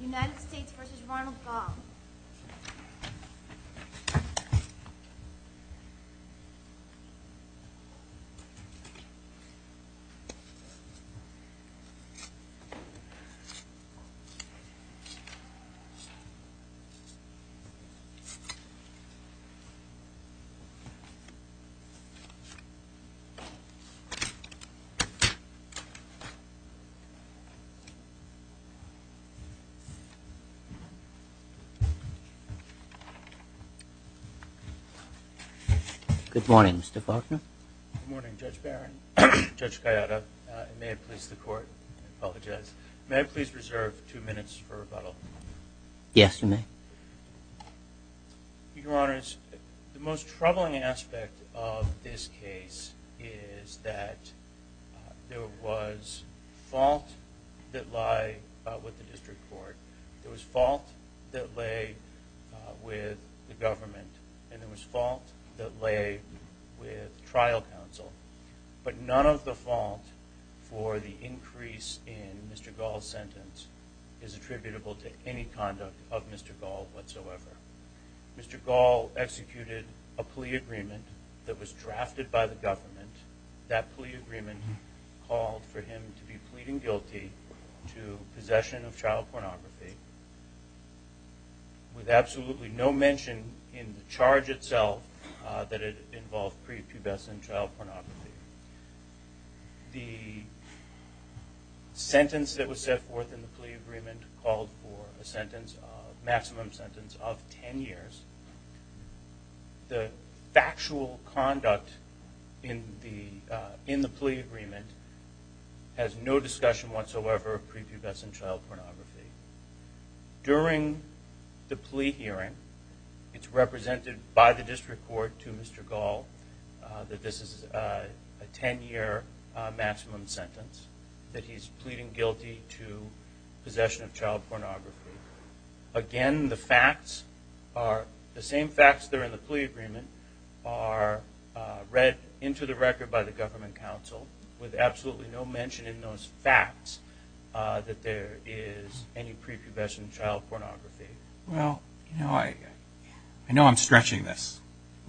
United States v. Ronald Gall Good morning, Judge Barron, Judge Gallardo, and may I please reserve two minutes for rebuttal? Yes, you may. Your Honors, the most troubling aspect of this case is that there was fault that lay with the district court, there was fault that lay with the government, and there was fault that lay with trial counsel. But none of the fault for the increase in Mr. Gall's sentence is attributable to any conduct of Mr. Gall whatsoever. Mr. Gall executed a plea agreement that was drafted by the government. That plea agreement called for him to be pleading guilty to possession of child pornography with absolutely no mention in the charge itself that it involved prepubescent child pornography. The sentence that was set forth in the plea agreement called for a maximum sentence of 10 years. The factual conduct in the plea agreement has no discussion whatsoever of prepubescent child pornography. During the plea hearing, it's represented by the district court to Mr. Gall that this is a 10-year maximum sentence, that he's pleading guilty to possession of child pornography. Again, the same facts that are in the plea agreement are read into the record by the government counsel with absolutely no mention in those facts that there is any prepubescent child pornography. Well, I know I'm stretching this,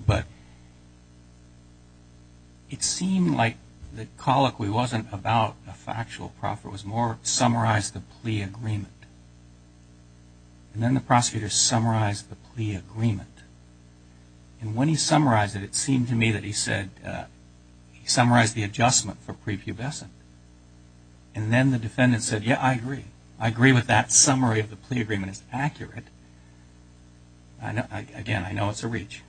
but it seemed like the colloquy wasn't about a factual proffer. It was more, summarize the plea agreement. And then the prosecutor summarized the plea agreement. And when he summarized it, it seemed to me that he said he summarized the adjustment for prepubescent. And then the defendant said, yeah, I agree. I agree with that summary of the plea agreement is accurate. Again, I know it's a reach.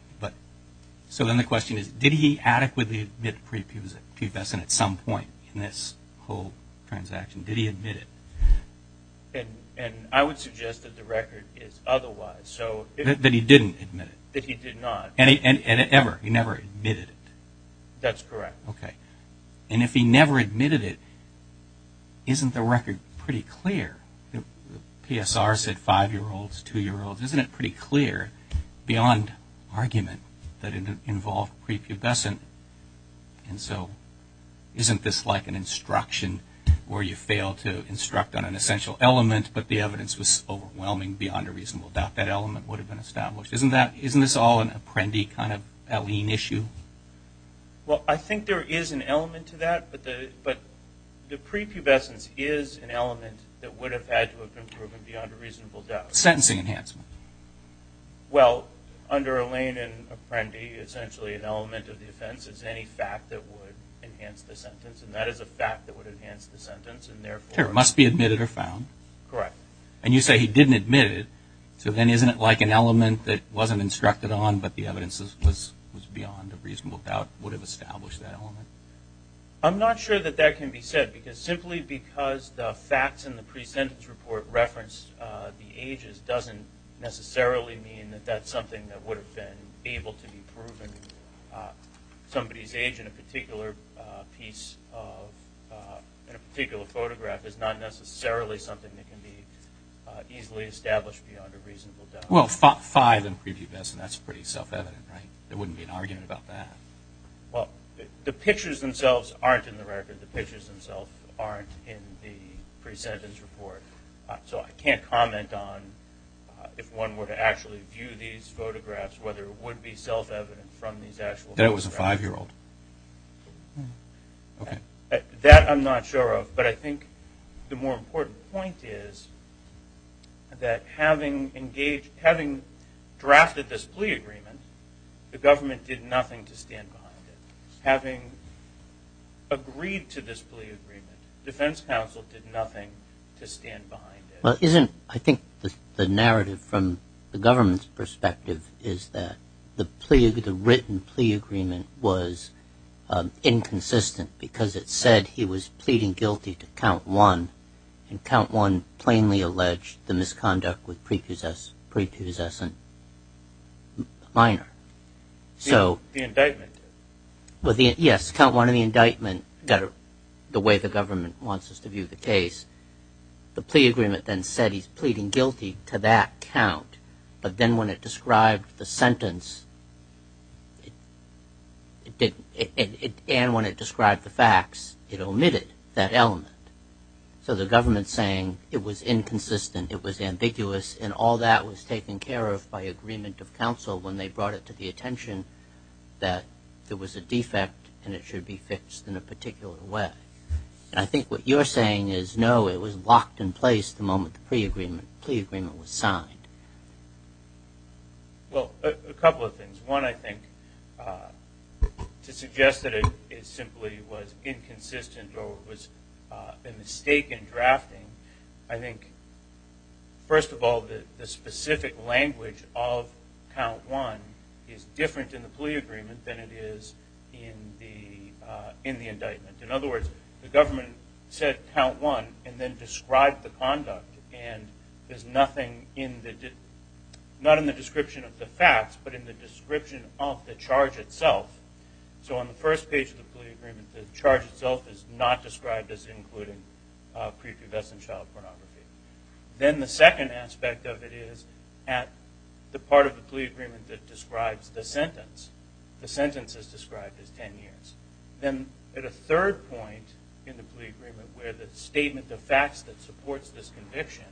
So then the question is, did he adequately admit prepubescent at some point in this whole transaction? Did he admit it? And I would suggest that the record is otherwise. That he didn't admit it? That he did not. And ever? He never admitted it? That's correct. Okay. And if he never admitted it, isn't the record pretty clear? PSR said five-year-olds, two-year-olds. Isn't it pretty clear, beyond argument, that it involved prepubescent? And so isn't this like an instruction where you fail to instruct on an essential element, but the evidence was overwhelming beyond a reasonable doubt that element would have been established? Isn't this all an apprendi kind of alien issue? Well, I think there is an element to that. But the prepubescence is an element that would have had to have been proven beyond a reasonable doubt. Sentencing enhancement. Well, under a lane and apprendi, essentially an element of the offense is any fact that would enhance the sentence. And that is a fact that would enhance the sentence. There must be admitted or found. Correct. And you say he didn't admit it. So then isn't it like an element that wasn't instructed on, but the evidence was beyond a reasonable doubt would have established that element? I'm not sure that that can be said, because simply because the facts in the pre-sentence report reference the ages doesn't necessarily mean that that's something that would have been able to be proven. Somebody's age in a particular piece of, in a particular photograph, is not necessarily something that can be easily established beyond a reasonable doubt. Well, five in prepubescence, that's pretty self-evident, right? There wouldn't be an argument about that. Well, the pictures themselves aren't in the record. The pictures themselves aren't in the pre-sentence report. So I can't comment on if one were to actually view these photographs, whether it would be self-evident from these actual photographs. That it was a five-year-old. Okay. That I'm not sure of. But I think the more important point is that having drafted this plea agreement, the government did nothing to stand behind it. Having agreed to this plea agreement, defense counsel did nothing to stand behind it. Well, isn't, I think, the narrative from the government's perspective is that the written plea agreement was inconsistent because it said he was pleading guilty to count one, and count one plainly alleged the misconduct with prepubescent minor. The indictment. Yes, count one in the indictment, the way the government wants us to view the case. The plea agreement then said he's pleading guilty to that count. But then when it described the sentence, it didn't. And when it described the facts, it omitted that element. So the government's saying it was inconsistent, it was ambiguous, and all that was taken care of by agreement of counsel when they brought it to the attention that there was a defect and it should be fixed in a particular way. I think what you're saying is, no, it was locked in place the moment the plea agreement was signed. Well, a couple of things. One, I think, to suggest that it simply was inconsistent or it was a mistake in drafting, I think, first of all, the specific language of count one is different in the plea agreement than it is in the indictment. In other words, the government said count one and then described the conduct, and there's nothing not in the description of the facts but in the description of the charge itself. So on the first page of the plea agreement, the charge itself is not described as including prepubescent child pornography. Then the second aspect of it is at the part of the plea agreement that describes the sentence. The sentence is described as ten years. Then at a third point in the plea agreement where the statement, the facts that supports this conviction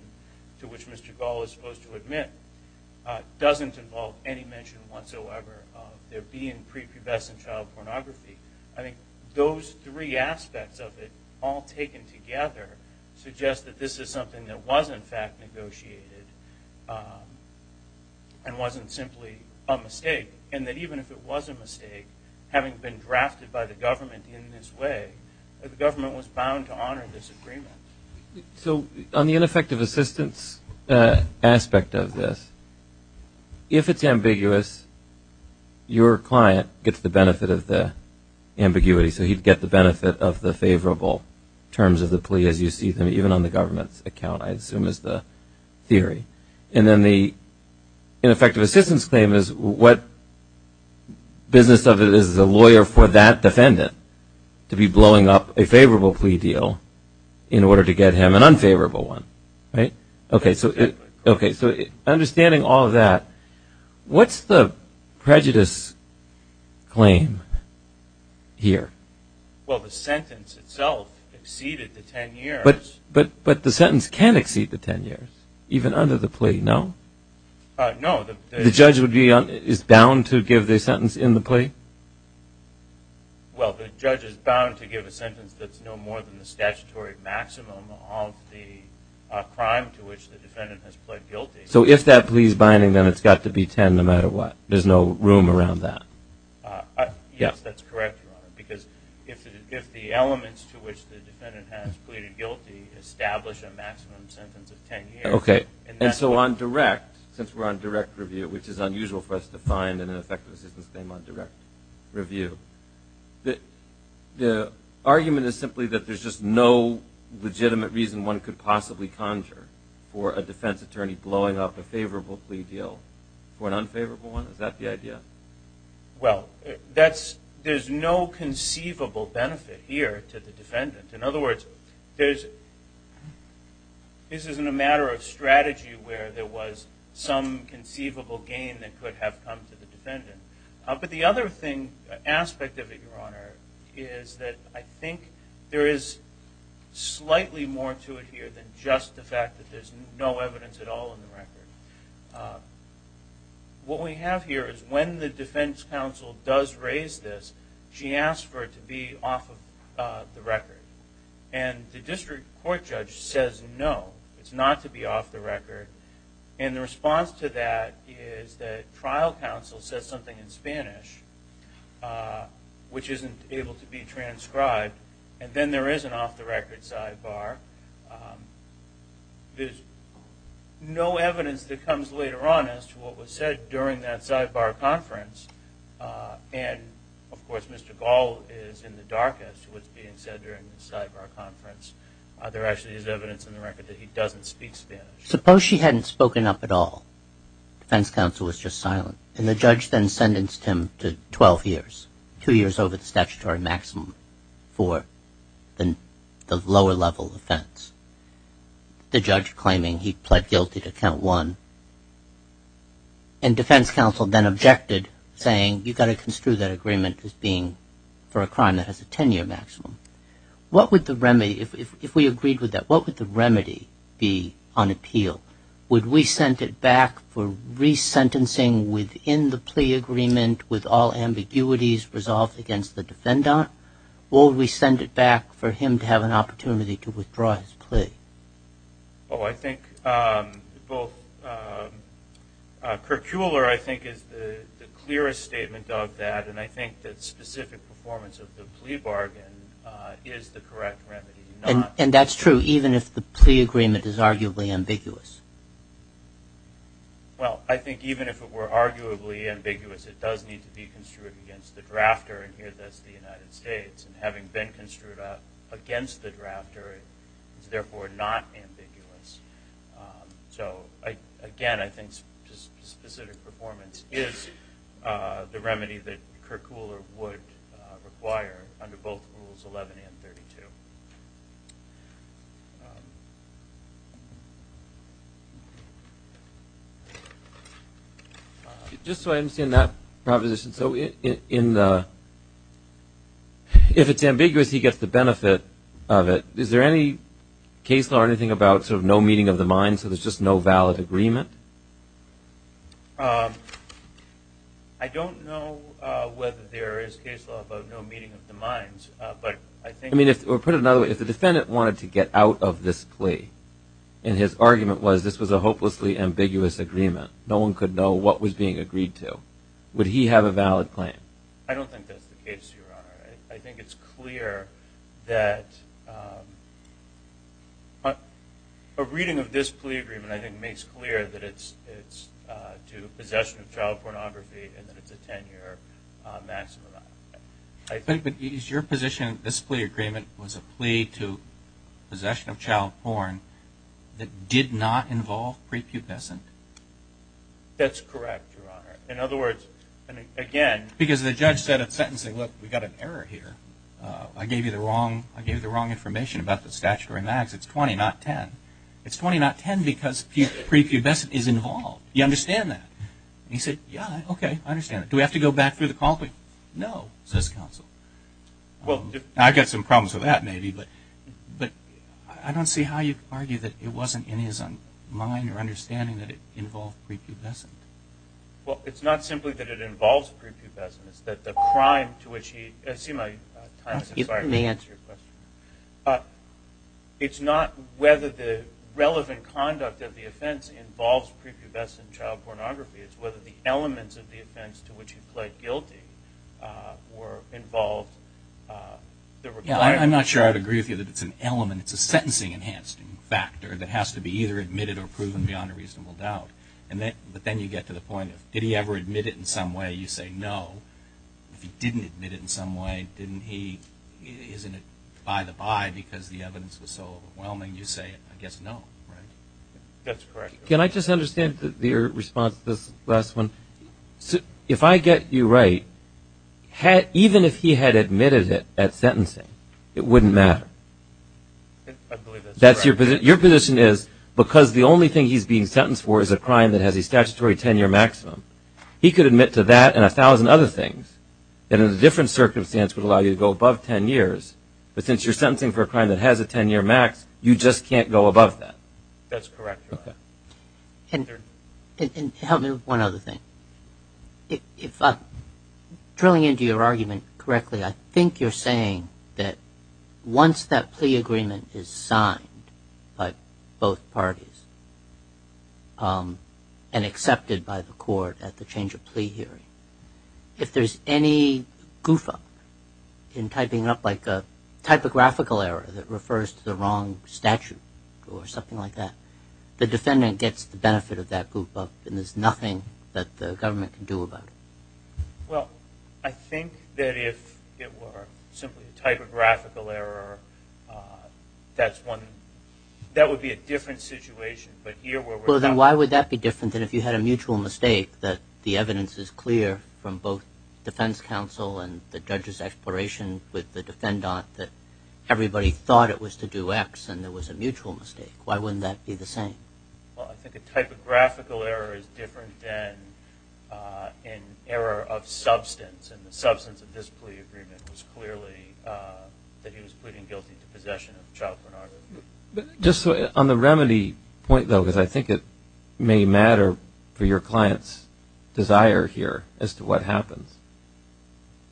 to which Mr. Gall is supposed to admit, doesn't involve any mention whatsoever of there being prepubescent child pornography. I think those three aspects of it all taken together suggest that this is something that was, in fact, negotiated and wasn't simply a mistake, and that even if it was a mistake, having been drafted by the government in this way, the government was bound to honor this agreement. So on the ineffective assistance aspect of this, if it's ambiguous, your client gets the benefit of the ambiguity, so he'd get the benefit of the favorable terms of the plea as you see them, even on the government's account, I assume is the theory. And then the ineffective assistance claim is what business of it is the lawyer for that defendant to be blowing up a favorable plea deal in order to get him an unfavorable one, right? Okay, so understanding all of that, what's the prejudice claim here? Well, the sentence itself exceeded the ten years. But the sentence can't exceed the ten years, even under the plea, no? No. The judge is bound to give the sentence in the plea? Well, the judge is bound to give a sentence that's no more than the statutory maximum of the crime to which the defendant has pled guilty. So if that plea is binding, then it's got to be ten no matter what. There's no room around that. Yes, that's correct, Your Honor, because if the elements to which the defendant has pleaded guilty establish a maximum sentence of ten years. Okay, and so on direct, since we're on direct review, which is unusual for us to find an ineffective assistance claim on direct review, the argument is simply that there's just no legitimate reason one could possibly conjure for a defense attorney blowing up a favorable plea deal for an unfavorable one? Is that the idea? Well, there's no conceivable benefit here to the defendant. In other words, this isn't a matter of strategy where there was some conceivable gain that could have come to the defendant. But the other aspect of it, Your Honor, is that I think there is slightly more to it here than just the fact that there's no evidence at all in the record. What we have here is when the defense counsel does raise this, she asks for it to be off the record. And the district court judge says no, it's not to be off the record. And the response to that is that trial counsel says something in Spanish, which isn't able to be transcribed, and then there is an off-the-record sidebar. There's no evidence that comes later on as to what was said during that sidebar conference. And, of course, Mr. Gall is in the dark as to what's being said during the sidebar conference. There actually is evidence in the record that he doesn't speak Spanish. Suppose she hadn't spoken up at all, defense counsel was just silent, and the judge then sentenced him to 12 years, two years over the statutory maximum, for the lower-level offense. The judge claiming he pled guilty to count one. And defense counsel then objected, saying, you've got to construe that agreement as being for a crime that has a 10-year maximum. What would the remedy, if we agreed with that, what would the remedy be on appeal? Would we send it back for resentencing within the plea agreement with all ambiguities resolved against the defendant, or would we send it back for him to have an opportunity to withdraw his plea? Oh, I think both. Curcular, I think, is the clearest statement of that, and I think that specific performance of the plea bargain is the correct remedy. And that's true even if the plea agreement is arguably ambiguous? Well, I think even if it were arguably ambiguous, it does need to be construed against the drafter, and here that's the United States, and having been construed against the drafter is therefore not ambiguous. So, again, I think specific performance is the remedy that curcular would require under both Rules 11 and 32. Thank you. Just so I understand that proposition, so if it's ambiguous, he gets the benefit of it. Is there any case law or anything about sort of no meeting of the minds, so there's just no valid agreement? I don't know whether there is case law about no meeting of the minds. I mean, put it another way, if the defendant wanted to get out of this plea and his argument was this was a hopelessly ambiguous agreement, no one could know what was being agreed to, would he have a valid claim? I don't think that's the case, Your Honor. I think it's clear that a reading of this plea agreement, I think, makes clear that it's due to possession of child pornography and that it's a 10-year maximum. But is your position that this plea agreement was a plea to possession of child porn that did not involve prepubescent? That's correct, Your Honor. In other words, again- Because the judge said at sentencing, look, we've got an error here. I gave you the wrong information about the statutory max. It's 20, not 10. It's 20, not 10, because prepubescent is involved. You understand that? He said, yeah, okay, I understand. Do we have to go back through the call? No, says counsel. I've got some problems with that maybe, but I don't see how you'd argue that it wasn't in his mind or understanding that it involved prepubescent. Well, it's not simply that it involves prepubescent. It's that the crime to which he- I see my time has expired. Let me answer your question. It's not whether the relevant conduct of the offense involves prepubescent child pornography. It's whether the elements of the offense to which he pled guilty were involved. Yeah, I'm not sure I'd agree with you that it's an element. It's a sentencing-enhancing factor that has to be either admitted or proven beyond a reasonable doubt. But then you get to the point of did he ever admit it in some way? You say no. If he didn't admit it in some way, isn't it by the by because the evidence was so overwhelming? You say, I guess, no, right? That's correct. Can I just understand your response to this last one? If I get you right, even if he had admitted it at sentencing, it wouldn't matter? I believe that's correct. Your position is because the only thing he's being sentenced for is a crime that has a statutory 10-year maximum, he could admit to that and a thousand other things that in a different circumstance would allow you to go above 10 years. But since you're sentencing for a crime that has a 10-year max, you just can't go above that? That's correct, Your Honor. Help me with one other thing. Drilling into your argument correctly, I think you're saying that once that plea agreement is signed by both parties and accepted by the court at the change of plea hearing, if there's any goof-up in typing up like a typographical error that refers to the wrong statute or something like that, the defendant gets the benefit of that goof-up and there's nothing that the government can do about it. Well, I think that if it were simply a typographical error, that would be a different situation. Well, then why would that be different than if you had a mutual mistake that the evidence is clear from both defense counsel and the judge's exploration with the defendant that everybody thought it was to do X and there was a mutual mistake? Why wouldn't that be the same? Well, I think a typographical error is different than an error of substance, and the substance of this plea agreement was clearly that he was pleading guilty to possession of a child pornography. Just on the remedy point, though, because I think it may matter for your client's desire here as to what happens,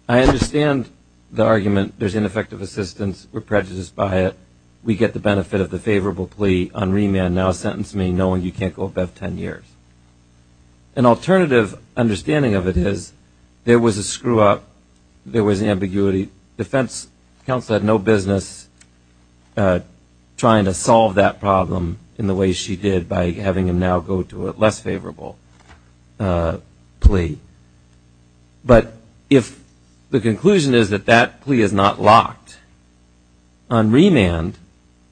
I understand the argument there's ineffective assistance, we're prejudiced by it, we get the benefit of the favorable plea on remand, now sentence me knowing you can't go above 10 years. An alternative understanding of it is there was a screw-up, there was ambiguity. Defense counsel had no business trying to solve that problem in the way she did by having him now go to a less favorable plea. But if the conclusion is that that plea is not locked on remand,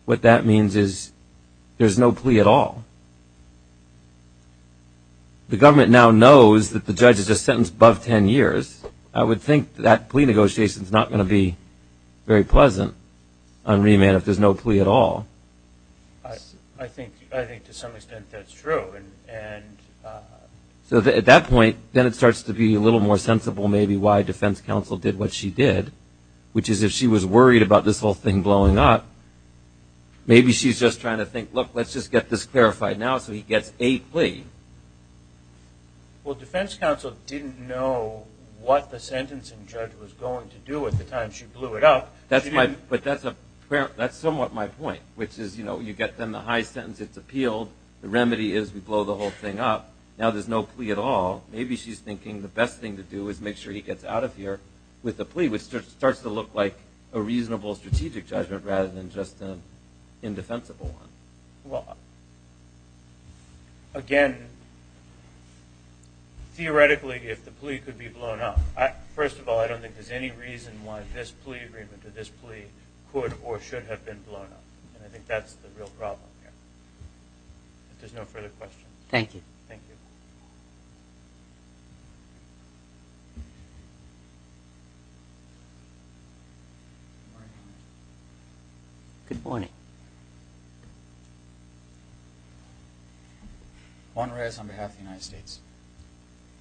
what that means is there's no plea at all. The government now knows that the judge is just sentenced above 10 years. I would think that plea negotiation is not going to be very pleasant on remand if there's no plea at all. I think to some extent that's true. So at that point, then it starts to be a little more sensible maybe why defense counsel did what she did, which is if she was worried about this whole thing blowing up, maybe she's just trying to think, look, let's just get this clarified now so he gets a plea. Well, defense counsel didn't know what the sentencing judge was going to do at the time she blew it up. But that's somewhat my point, which is you get the high sentence, it's appealed, the remedy is we blow the whole thing up. Now there's no plea at all. Maybe she's thinking the best thing to do is make sure he gets out of here with a plea, which starts to look like a reasonable strategic judgment rather than just an indefensible one. Again, theoretically, if the plea could be blown up, first of all, I don't think there's any reason why this plea agreement or this plea could or should have been blown up. And I think that's the real problem here. If there's no further questions. Thank you. Thank you. Good morning. Juan Reyes on behalf of the United States.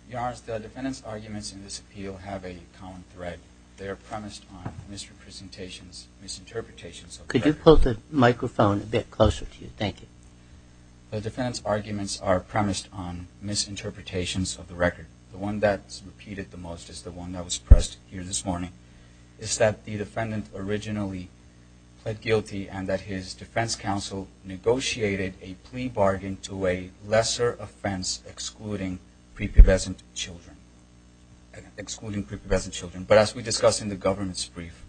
Your Honor, the defendant's arguments in this appeal have a common thread. They are premised on misrepresentations, misinterpretations of the record. Could you pull the microphone a bit closer to you? Thank you. The defendant's arguments are premised on misinterpretations of the record. The one that's repeated the most is the one that was pressed here this morning. It's that the defendant originally pled guilty and that his defense counsel negotiated a plea bargain to a lesser offense excluding prepubescent children, excluding prepubescent children. But as we discussed in the government's brief,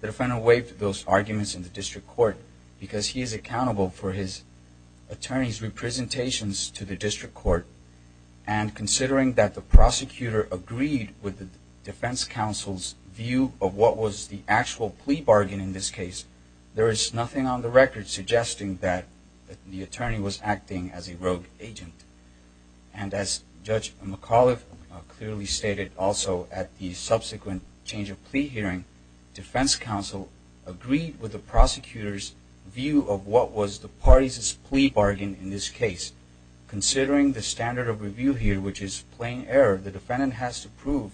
the defendant waived those arguments in the district court because he is accountable for his attorney's representations to the district court. And considering that the prosecutor agreed with the defense counsel's view of what was the actual plea bargain in this case, there is nothing on the record suggesting that the attorney was acting as a rogue agent. And as Judge McAuliffe clearly stated also at the subsequent change of plea hearing, defense counsel agreed with the prosecutor's view of what was the party's plea bargain in this case. Considering the standard of review here, which is plain error, the defendant has to prove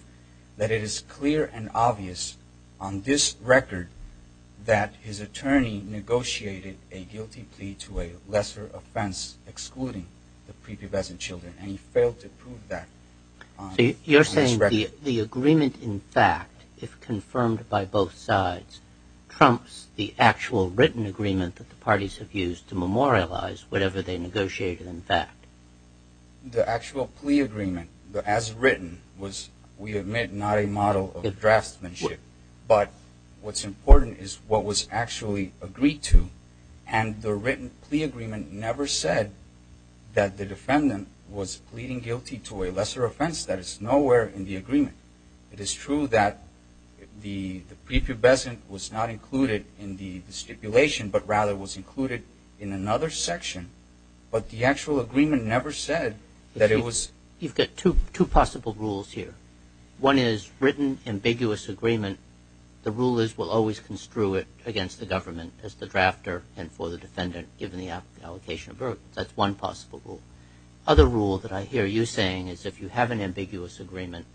that it is clear and obvious on this record that his attorney negotiated a guilty plea to a lesser offense excluding the prepubescent children, and he failed to prove that on this record. So you're saying the agreement in fact, if confirmed by both sides, trumps the actual written agreement that the parties have used to memorialize whatever they negotiated in fact? The actual plea agreement as written was, we admit, not a model of draftsmanship. But what's important is what was actually agreed to. And the written plea agreement never said that the defendant was pleading guilty to a lesser offense. That is nowhere in the agreement. It is true that the prepubescent was not included in the stipulation, but rather was included in another section. But the actual agreement never said that it was. You've got two possible rules here. One is written ambiguous agreement. The rule is we'll always construe it against the government as the drafter and for the defendant, given the allocation of burdens. That's one possible rule. Other rule that I hear you saying is if you have an ambiguous agreement,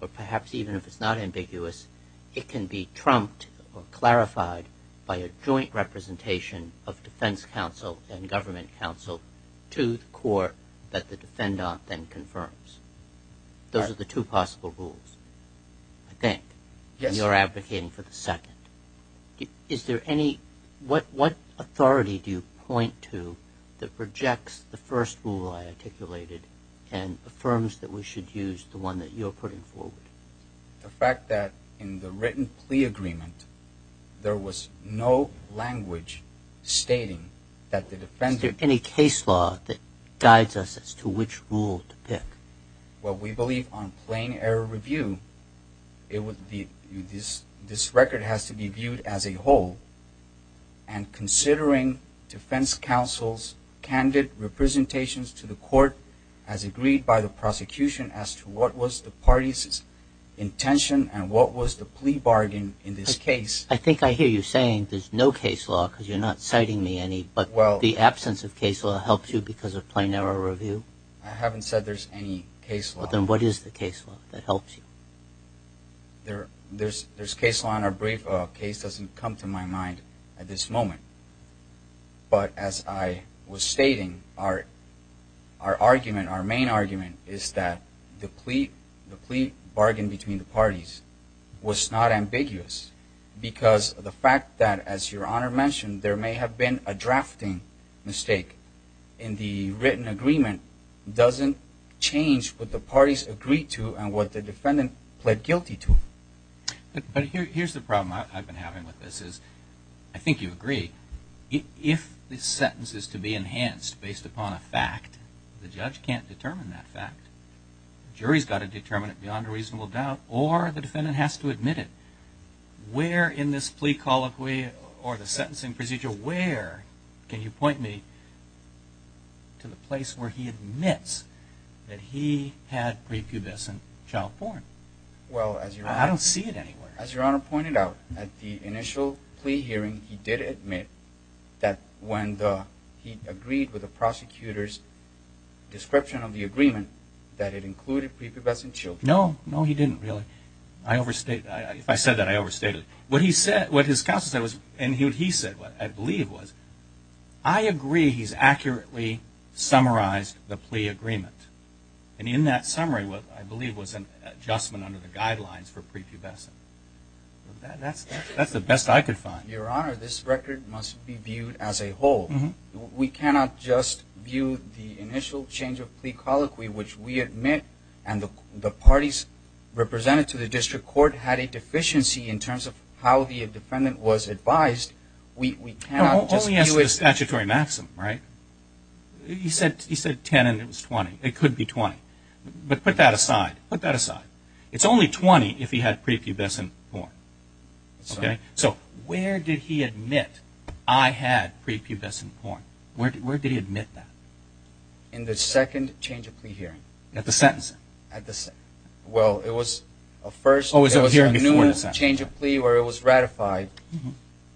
or perhaps even if it's not ambiguous, it can be trumped or clarified by a joint representation of defense counsel and government counsel to the court that the defendant then confirms. Those are the two possible rules, I think. Yes. And you're advocating for the second. Is there any, what authority do you point to that rejects the first rule I articulated and affirms that we should use the one that you're putting forward? The fact that in the written plea agreement, there was no language stating that the defendant Is there any case law that guides us as to which rule to pick? Well, we believe on plain error review, this record has to be viewed as a whole and considering defense counsel's candid representations to the court as agreed by the prosecution as to what was the party's intention and what was the plea bargain in this case. I think I hear you saying there's no case law because you're not citing me any, but the absence of case law helps you because of plain error review? I haven't said there's any case law. Then what is the case law that helps you? There's case law in our brief. Case doesn't come to my mind at this moment. But as I was stating, our argument, our main argument, is that the plea bargain between the parties was not ambiguous because of the fact that, as Your Honor mentioned, there may have been a drafting mistake in the written agreement doesn't change what the parties agreed to and what the defendant pled guilty to. But here's the problem I've been having with this is, I think you agree, if the sentence is to be enhanced based upon a fact, the judge can't determine that fact. The jury's got to determine it beyond a reasonable doubt or the defendant has to admit it. Where in this plea colloquy or the sentencing procedure, where can you point me to the place where he admits that he had prepubescent child porn? I don't see it anywhere. As Your Honor pointed out, at the initial plea hearing, he did admit that when he agreed with the prosecutor's description of the agreement, that it included prepubescent children. No, no, he didn't really. I overstate that. If I said that, I overstated it. What his counsel said and what he said, I believe, was, I agree he's accurately summarized the plea agreement. And in that summary, what I believe was an adjustment under the guidelines for prepubescent. That's the best I could find. Your Honor, this record must be viewed as a whole. We cannot just view the initial change of plea colloquy, which we admit and the parties represented to the district court had a deficiency in terms of how the defendant was advised. We cannot just view it. It's a statutory maxim, right? He said 10 and it was 20. It could be 20. But put that aside. Put that aside. It's only 20 if he had prepubescent porn. Okay? So where did he admit, I had prepubescent porn? Where did he admit that? In the second change of plea hearing. At the sentencing? Well, it was a first. It was a new change of plea where it was ratified,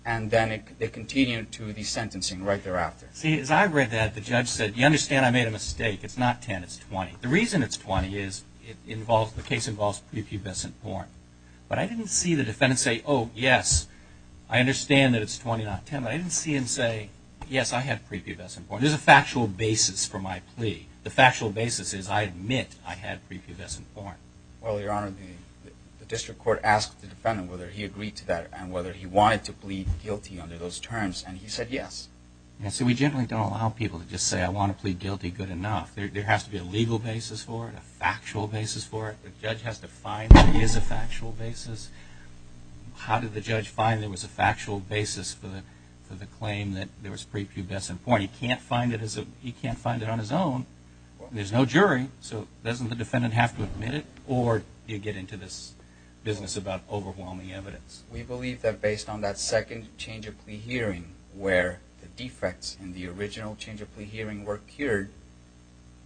and then they continued to the sentencing right thereafter. See, as I read that, the judge said, you understand I made a mistake. It's not 10, it's 20. The reason it's 20 is the case involves prepubescent porn. But I didn't see the defendant say, oh, yes, I understand that it's 20, not 10. I didn't see him say, yes, I had prepubescent porn. There's a factual basis for my plea. The factual basis is I admit I had prepubescent porn. Well, Your Honor, the district court asked the defendant whether he agreed to that and whether he wanted to plead guilty under those terms, and he said yes. So we generally don't allow people to just say I want to plead guilty good enough. There has to be a legal basis for it, a factual basis for it. The judge has to find that there is a factual basis. How did the judge find there was a factual basis for the claim that there was prepubescent porn? He can't find it on his own. There's no jury, so doesn't the defendant have to admit it, or do you get into this business about overwhelming evidence? We believe that based on that second change of plea hearing where the defects in the original change of plea hearing were cured,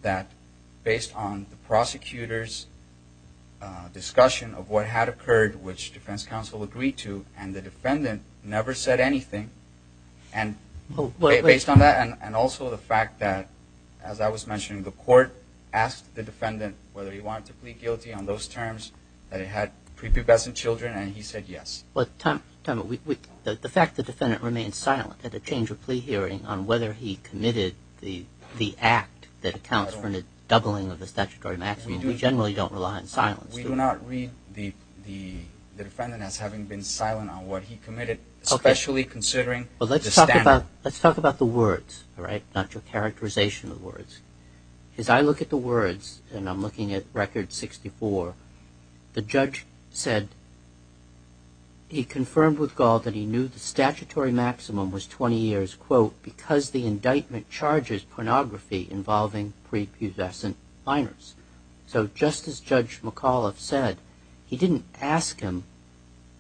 that based on the prosecutor's discussion of what had occurred, which defense counsel agreed to, and the defendant never said anything, and based on that and also the fact that, as I was mentioning, the court asked the defendant whether he wanted to plead guilty on those terms, that it had prepubescent children, and he said yes. The fact the defendant remained silent at the change of plea hearing on whether he committed the act that accounts for the doubling of the statutory maximum, we generally don't rely on silence. We do not read the defendant as having been silent on what he committed, especially considering the standard. Let's talk about the words, not your characterization of words. As I look at the words, and I'm looking at record 64, the judge said he confirmed with Gall that he knew the statutory maximum was 20 years because the indictment charges pornography involving prepubescent minors. So just as Judge McAuliffe said, he didn't ask him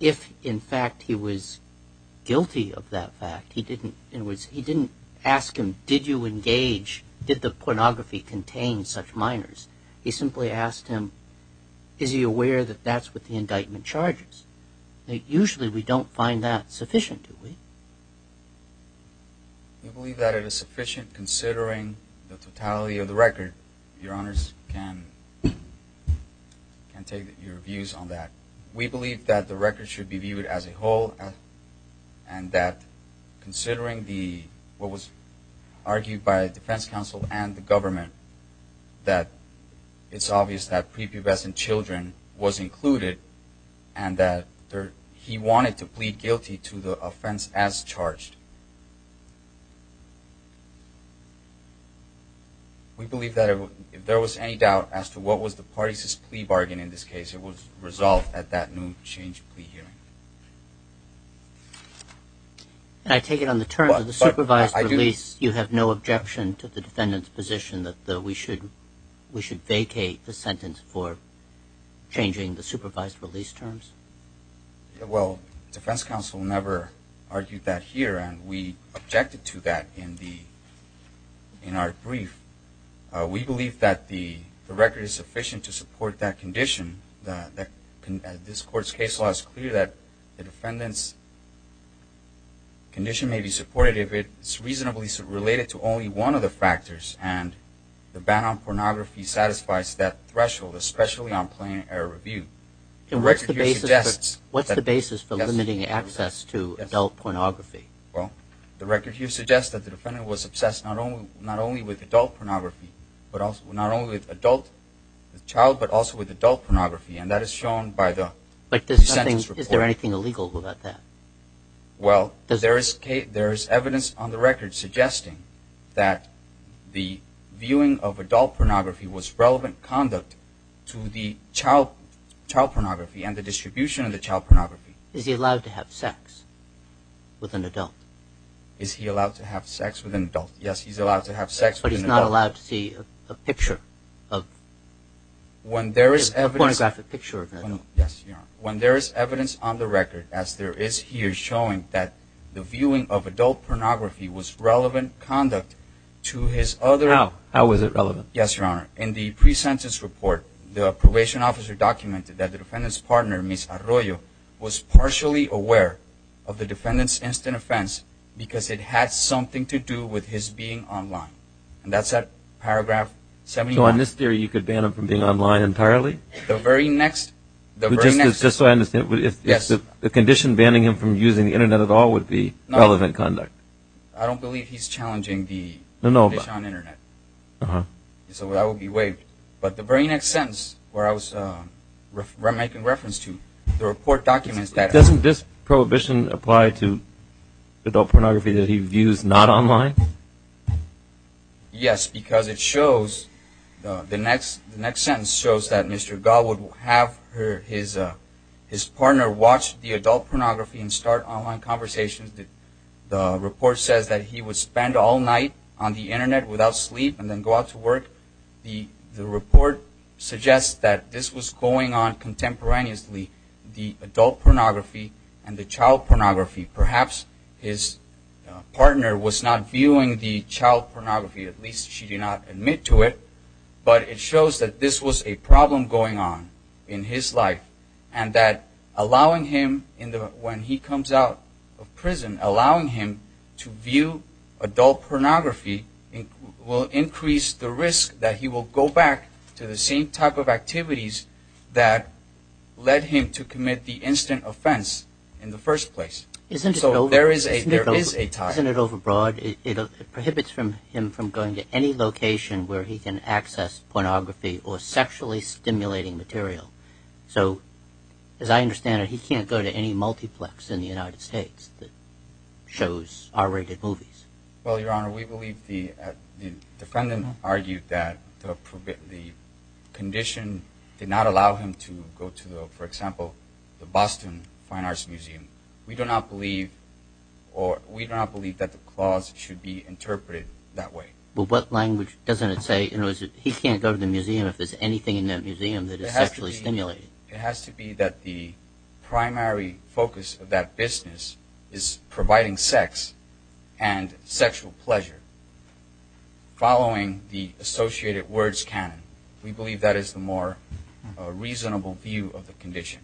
if, in fact, he was guilty of that fact. He didn't ask him, did you engage, did the pornography contain such minors? He simply asked him, is he aware that that's what the indictment charges? Usually we don't find that sufficient, do we? We believe that it is sufficient considering the totality of the record. Your Honors can take your views on that. We believe that the record should be viewed as a whole and that considering what was argued by the defense counsel and the government, that it's obvious that prepubescent children was included and that he wanted to plead guilty to the offense as charged. We believe that if there was any doubt as to what was the parties' plea bargain in this case, it was resolved at that new change of plea hearing. And I take it on the terms of the supervised release, you have no objection to the defendant's position that we should vacate the sentence for changing the supervised release terms? Well, the defense counsel never argued that here, and we objected to that in our brief. We believe that the record is sufficient to support that condition. This Court's case law is clear that the defendant's condition may be supported if it's reasonably related to only one of the factors, and the ban on pornography satisfies that threshold, especially on plain error review. What's the basis for limiting access to adult pornography? Well, the record here suggests that the defendant was obsessed not only with adult pornography, not only with adult child, but also with adult pornography, and that is shown by the sentence report. But is there anything illegal about that? Well, there is evidence on the record suggesting that the viewing of adult pornography was relevant conduct to the child pornography and the distribution of the child pornography. Is he allowed to have sex with an adult? Is he allowed to have sex with an adult? Yes, he's allowed to have sex with an adult. But he's not allowed to see a picture of a pornographic picture of an adult? Yes, Your Honor. When there is evidence on the record, as there is here, showing that the viewing of adult pornography was relevant conduct to his other... How? How was it relevant? Yes, Your Honor. In the pre-sentence report, the probation officer documented that the defendant's partner, Ms. Arroyo, was partially aware of the defendant's instant offense because it had something to do with his being online. And that's at paragraph 71. So in this theory, you could ban him from being online entirely? The very next... Just so I understand, the condition banning him from using the Internet at all would be relevant conduct? I don't believe he's challenging the condition on the Internet. So that would be waived. But the very next sentence, where I was making reference to, the report documents that... Doesn't this prohibition apply to adult pornography that he views not online? Yes, because it shows, the next sentence shows, that Mr. Gall would have his partner watch the adult pornography and start online conversations. The report says that he would spend all night on the Internet without sleep and then go out to work. The report suggests that this was going on contemporaneously, the adult pornography and the child pornography. Perhaps his partner was not viewing the child pornography. At least she did not admit to it. But it shows that this was a problem going on in his life. And allowing him to view adult pornography will increase the risk that he will go back to the same type of activities that led him to commit the instant offense in the first place. So there is a tie. Isn't it overbroad? It prohibits him from going to any location where he can access pornography or sexually stimulating material. So, as I understand it, he can't go to any multiplex in the United States that shows R-rated movies. Well, Your Honor, we believe the defendant argued that the condition did not allow him to go to, for example, the Boston Fine Arts Museum. We do not believe that the clause should be interpreted that way. Well, what language doesn't it say? He can't go to the museum if there's anything in that museum that is sexually stimulating. It has to be that the primary focus of that business is providing sex and sexual pleasure following the associated words canon. We believe that is the more reasonable view of the condition.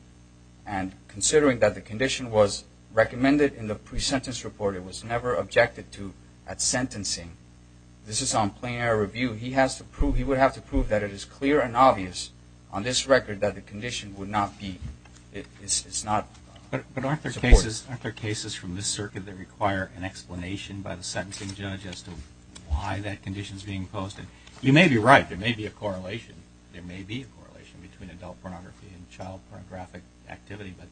And considering that the condition was recommended in the pre-sentence report, it was never objected to at sentencing, this is on plain error review, he would have to prove that it is clear and obvious on this record that the condition is not supported. But aren't there cases from this circuit that require an explanation by the sentencing judge as to why that condition is being imposed? You may be right. There may be a correlation. There may be a correlation between adult pornography and child pornographic activity, but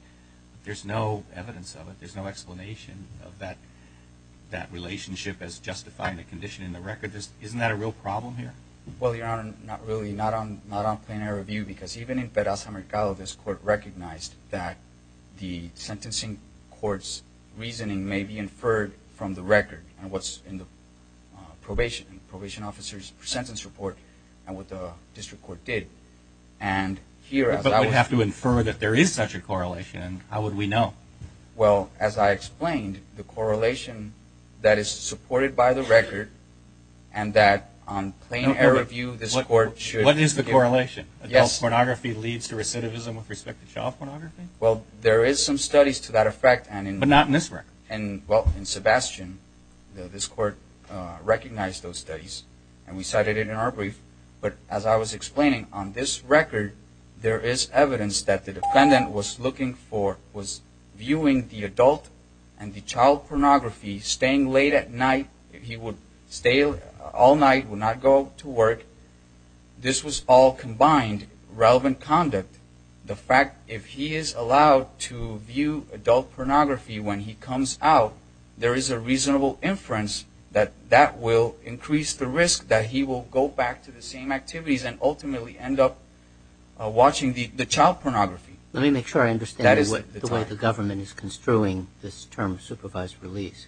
there's no evidence of it. That relationship as justifying the condition in the record, isn't that a real problem here? Well, Your Honor, not really, not on plain error review, because even in Pedraza Mercado this court recognized that the sentencing court's reasoning may be inferred from the record and what's in the probation officer's sentence report and what the district court did. But we'd have to infer that there is such a correlation. How would we know? Well, as I explained, the correlation that is supported by the record and that on plain error review, this court should... What is the correlation? Yes. Adult pornography leads to recidivism with respect to child pornography? Well, there is some studies to that effect and in... But not in this record. Well, in Sebastian, this court recognized those studies and we cited it in our brief, but as I was explaining, on this record, there is evidence that the defendant was looking for, was viewing the adult and the child pornography, staying late at night. He would stay all night, would not go to work. This was all combined relevant conduct. The fact, if he is allowed to view adult pornography when he comes out, there is a reasonable inference that that will increase the risk that he will go back to the same activities and ultimately end up watching the child pornography. Let me make sure I understand the way the government is construing this term, supervised release.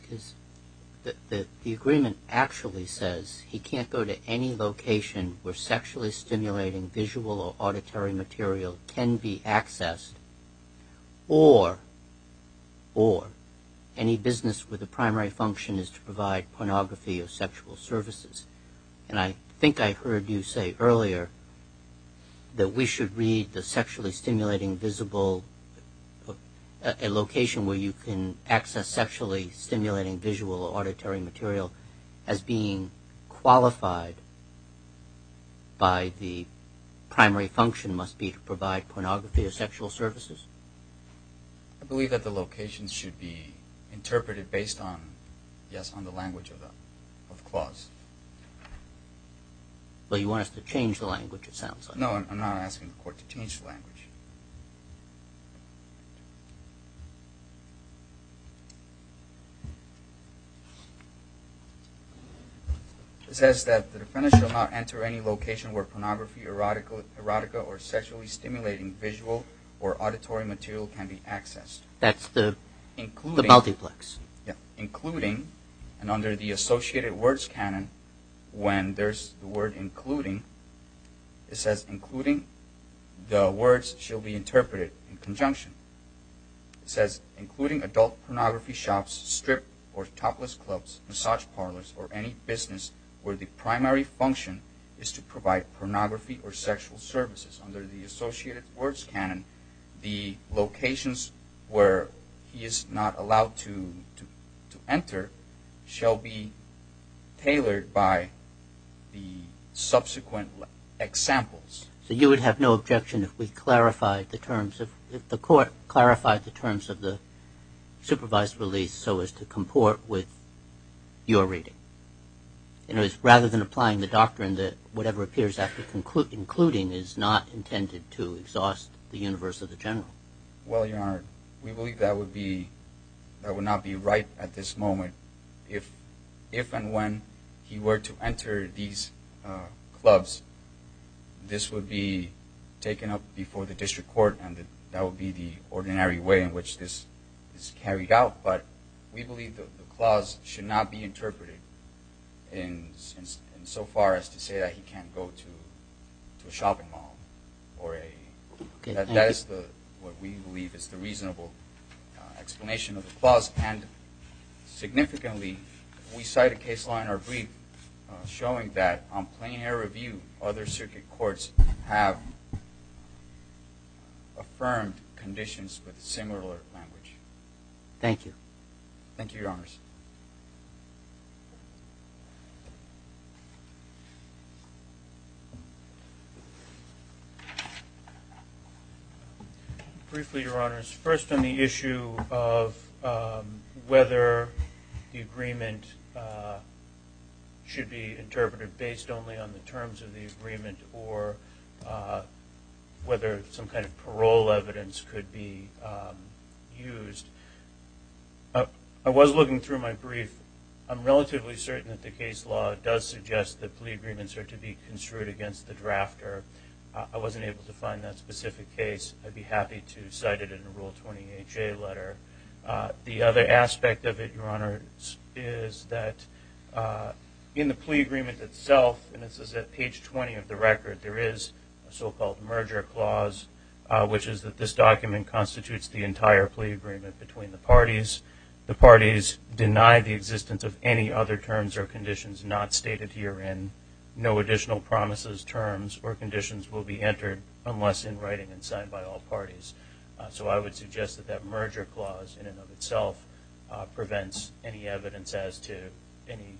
The agreement actually says he can't go to any location where sexually stimulating visual or auditory material can be accessed or any business with a primary function is to provide pornography or sexual services. And I think I heard you say earlier that we should read the sexually stimulating visible, a location where you can access sexually stimulating visual or auditory material as being qualified by the primary function must be to provide pornography or sexual services. I believe that the location should be interpreted based on, yes, on the language of the clause. Well, you want us to change the language, it sounds like. No, I'm not asking the court to change the language. It says that the defendant shall not enter any location where pornography, erotica, or sexually stimulating visual or auditory material can be accessed. That's the multiplex. Including, and under the associated words canon, when there's the word including, shall be interpreted in conjunction. It says, including adult pornography shops, strip or topless clubs, massage parlors, or any business where the primary function is to provide pornography or sexual services. Under the associated words canon, the locations where he is not allowed to enter shall be tailored by the subsequent examples. So you would have no objection if we clarified the terms of, if the court clarified the terms of the supervised release so as to comport with your reading. In other words, rather than applying the doctrine that whatever appears after including is not intended to exhaust the universe of the general. Well, Your Honor, we believe that would be, that would not be right at this moment. If and when he were to enter these clubs, this would be taken up before the district court and that would be the ordinary way in which this is carried out. But we believe that the clause should not be interpreted in so far as to say that he can't go to a shopping mall. That is what we believe is the reasonable explanation of the clause. And significantly, we cite a case law in our brief showing that on plain air review, other circuit courts have affirmed conditions with similar language. Thank you. Thank you, Your Honors. Briefly, Your Honors, first on the issue of whether the agreement should be interpreted based only on the terms of the agreement or whether some kind of parole evidence could be used, I was looking through my brief. I'm relatively certain that the case law does suggest that plea agreements are to be construed against the drafter. I wasn't able to find that specific case. I'd be happy to cite it in a Rule 20HA letter. The other aspect of it, Your Honors, is that in the plea agreement itself, and this is at page 20 of the record, there is a so-called merger clause, which is that this document constitutes the entire plea agreement between the parties. The parties deny the existence of any other terms or conditions not stated herein. No additional promises, terms, or conditions will be entered unless in writing and signed by all parties. So I would suggest that that merger clause in and of itself prevents any evidence as to any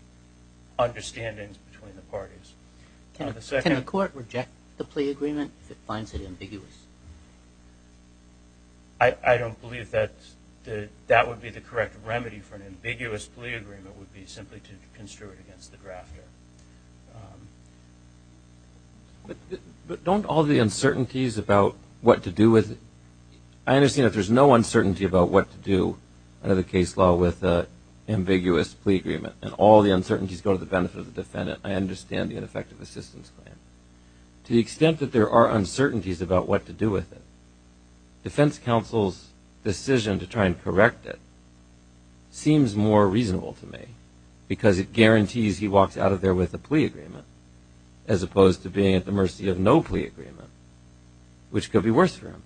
understandings between the parties. Can the court reject the plea agreement if it finds it ambiguous? I don't believe that that would be the correct remedy for an ambiguous plea agreement would be simply to construe it against the drafter. But don't all the uncertainties about what to do with it? I understand that there's no uncertainty about what to do under the case law with an ambiguous plea agreement, and all the uncertainties go to the benefit of the defendant. I understand the ineffective assistance plan. To the extent that there are uncertainties about what to do with it, defense counsel's decision to try and correct it seems more reasonable to me because it guarantees he walks out of there with a plea agreement as opposed to being at the mercy of no plea agreement, which could be worse for him.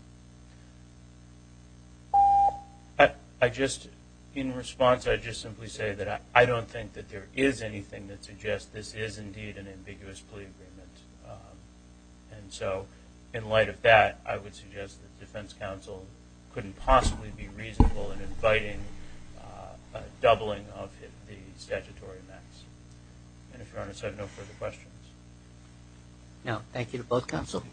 In response, I'd just simply say that I don't think that there is anything that suggests this is indeed an ambiguous plea agreement. And so in light of that, I would suggest that defense counsel couldn't possibly be reasonable in inviting a doubling of the statutory max. And if Your Honor said no further questions. Now, thank you to both counsel.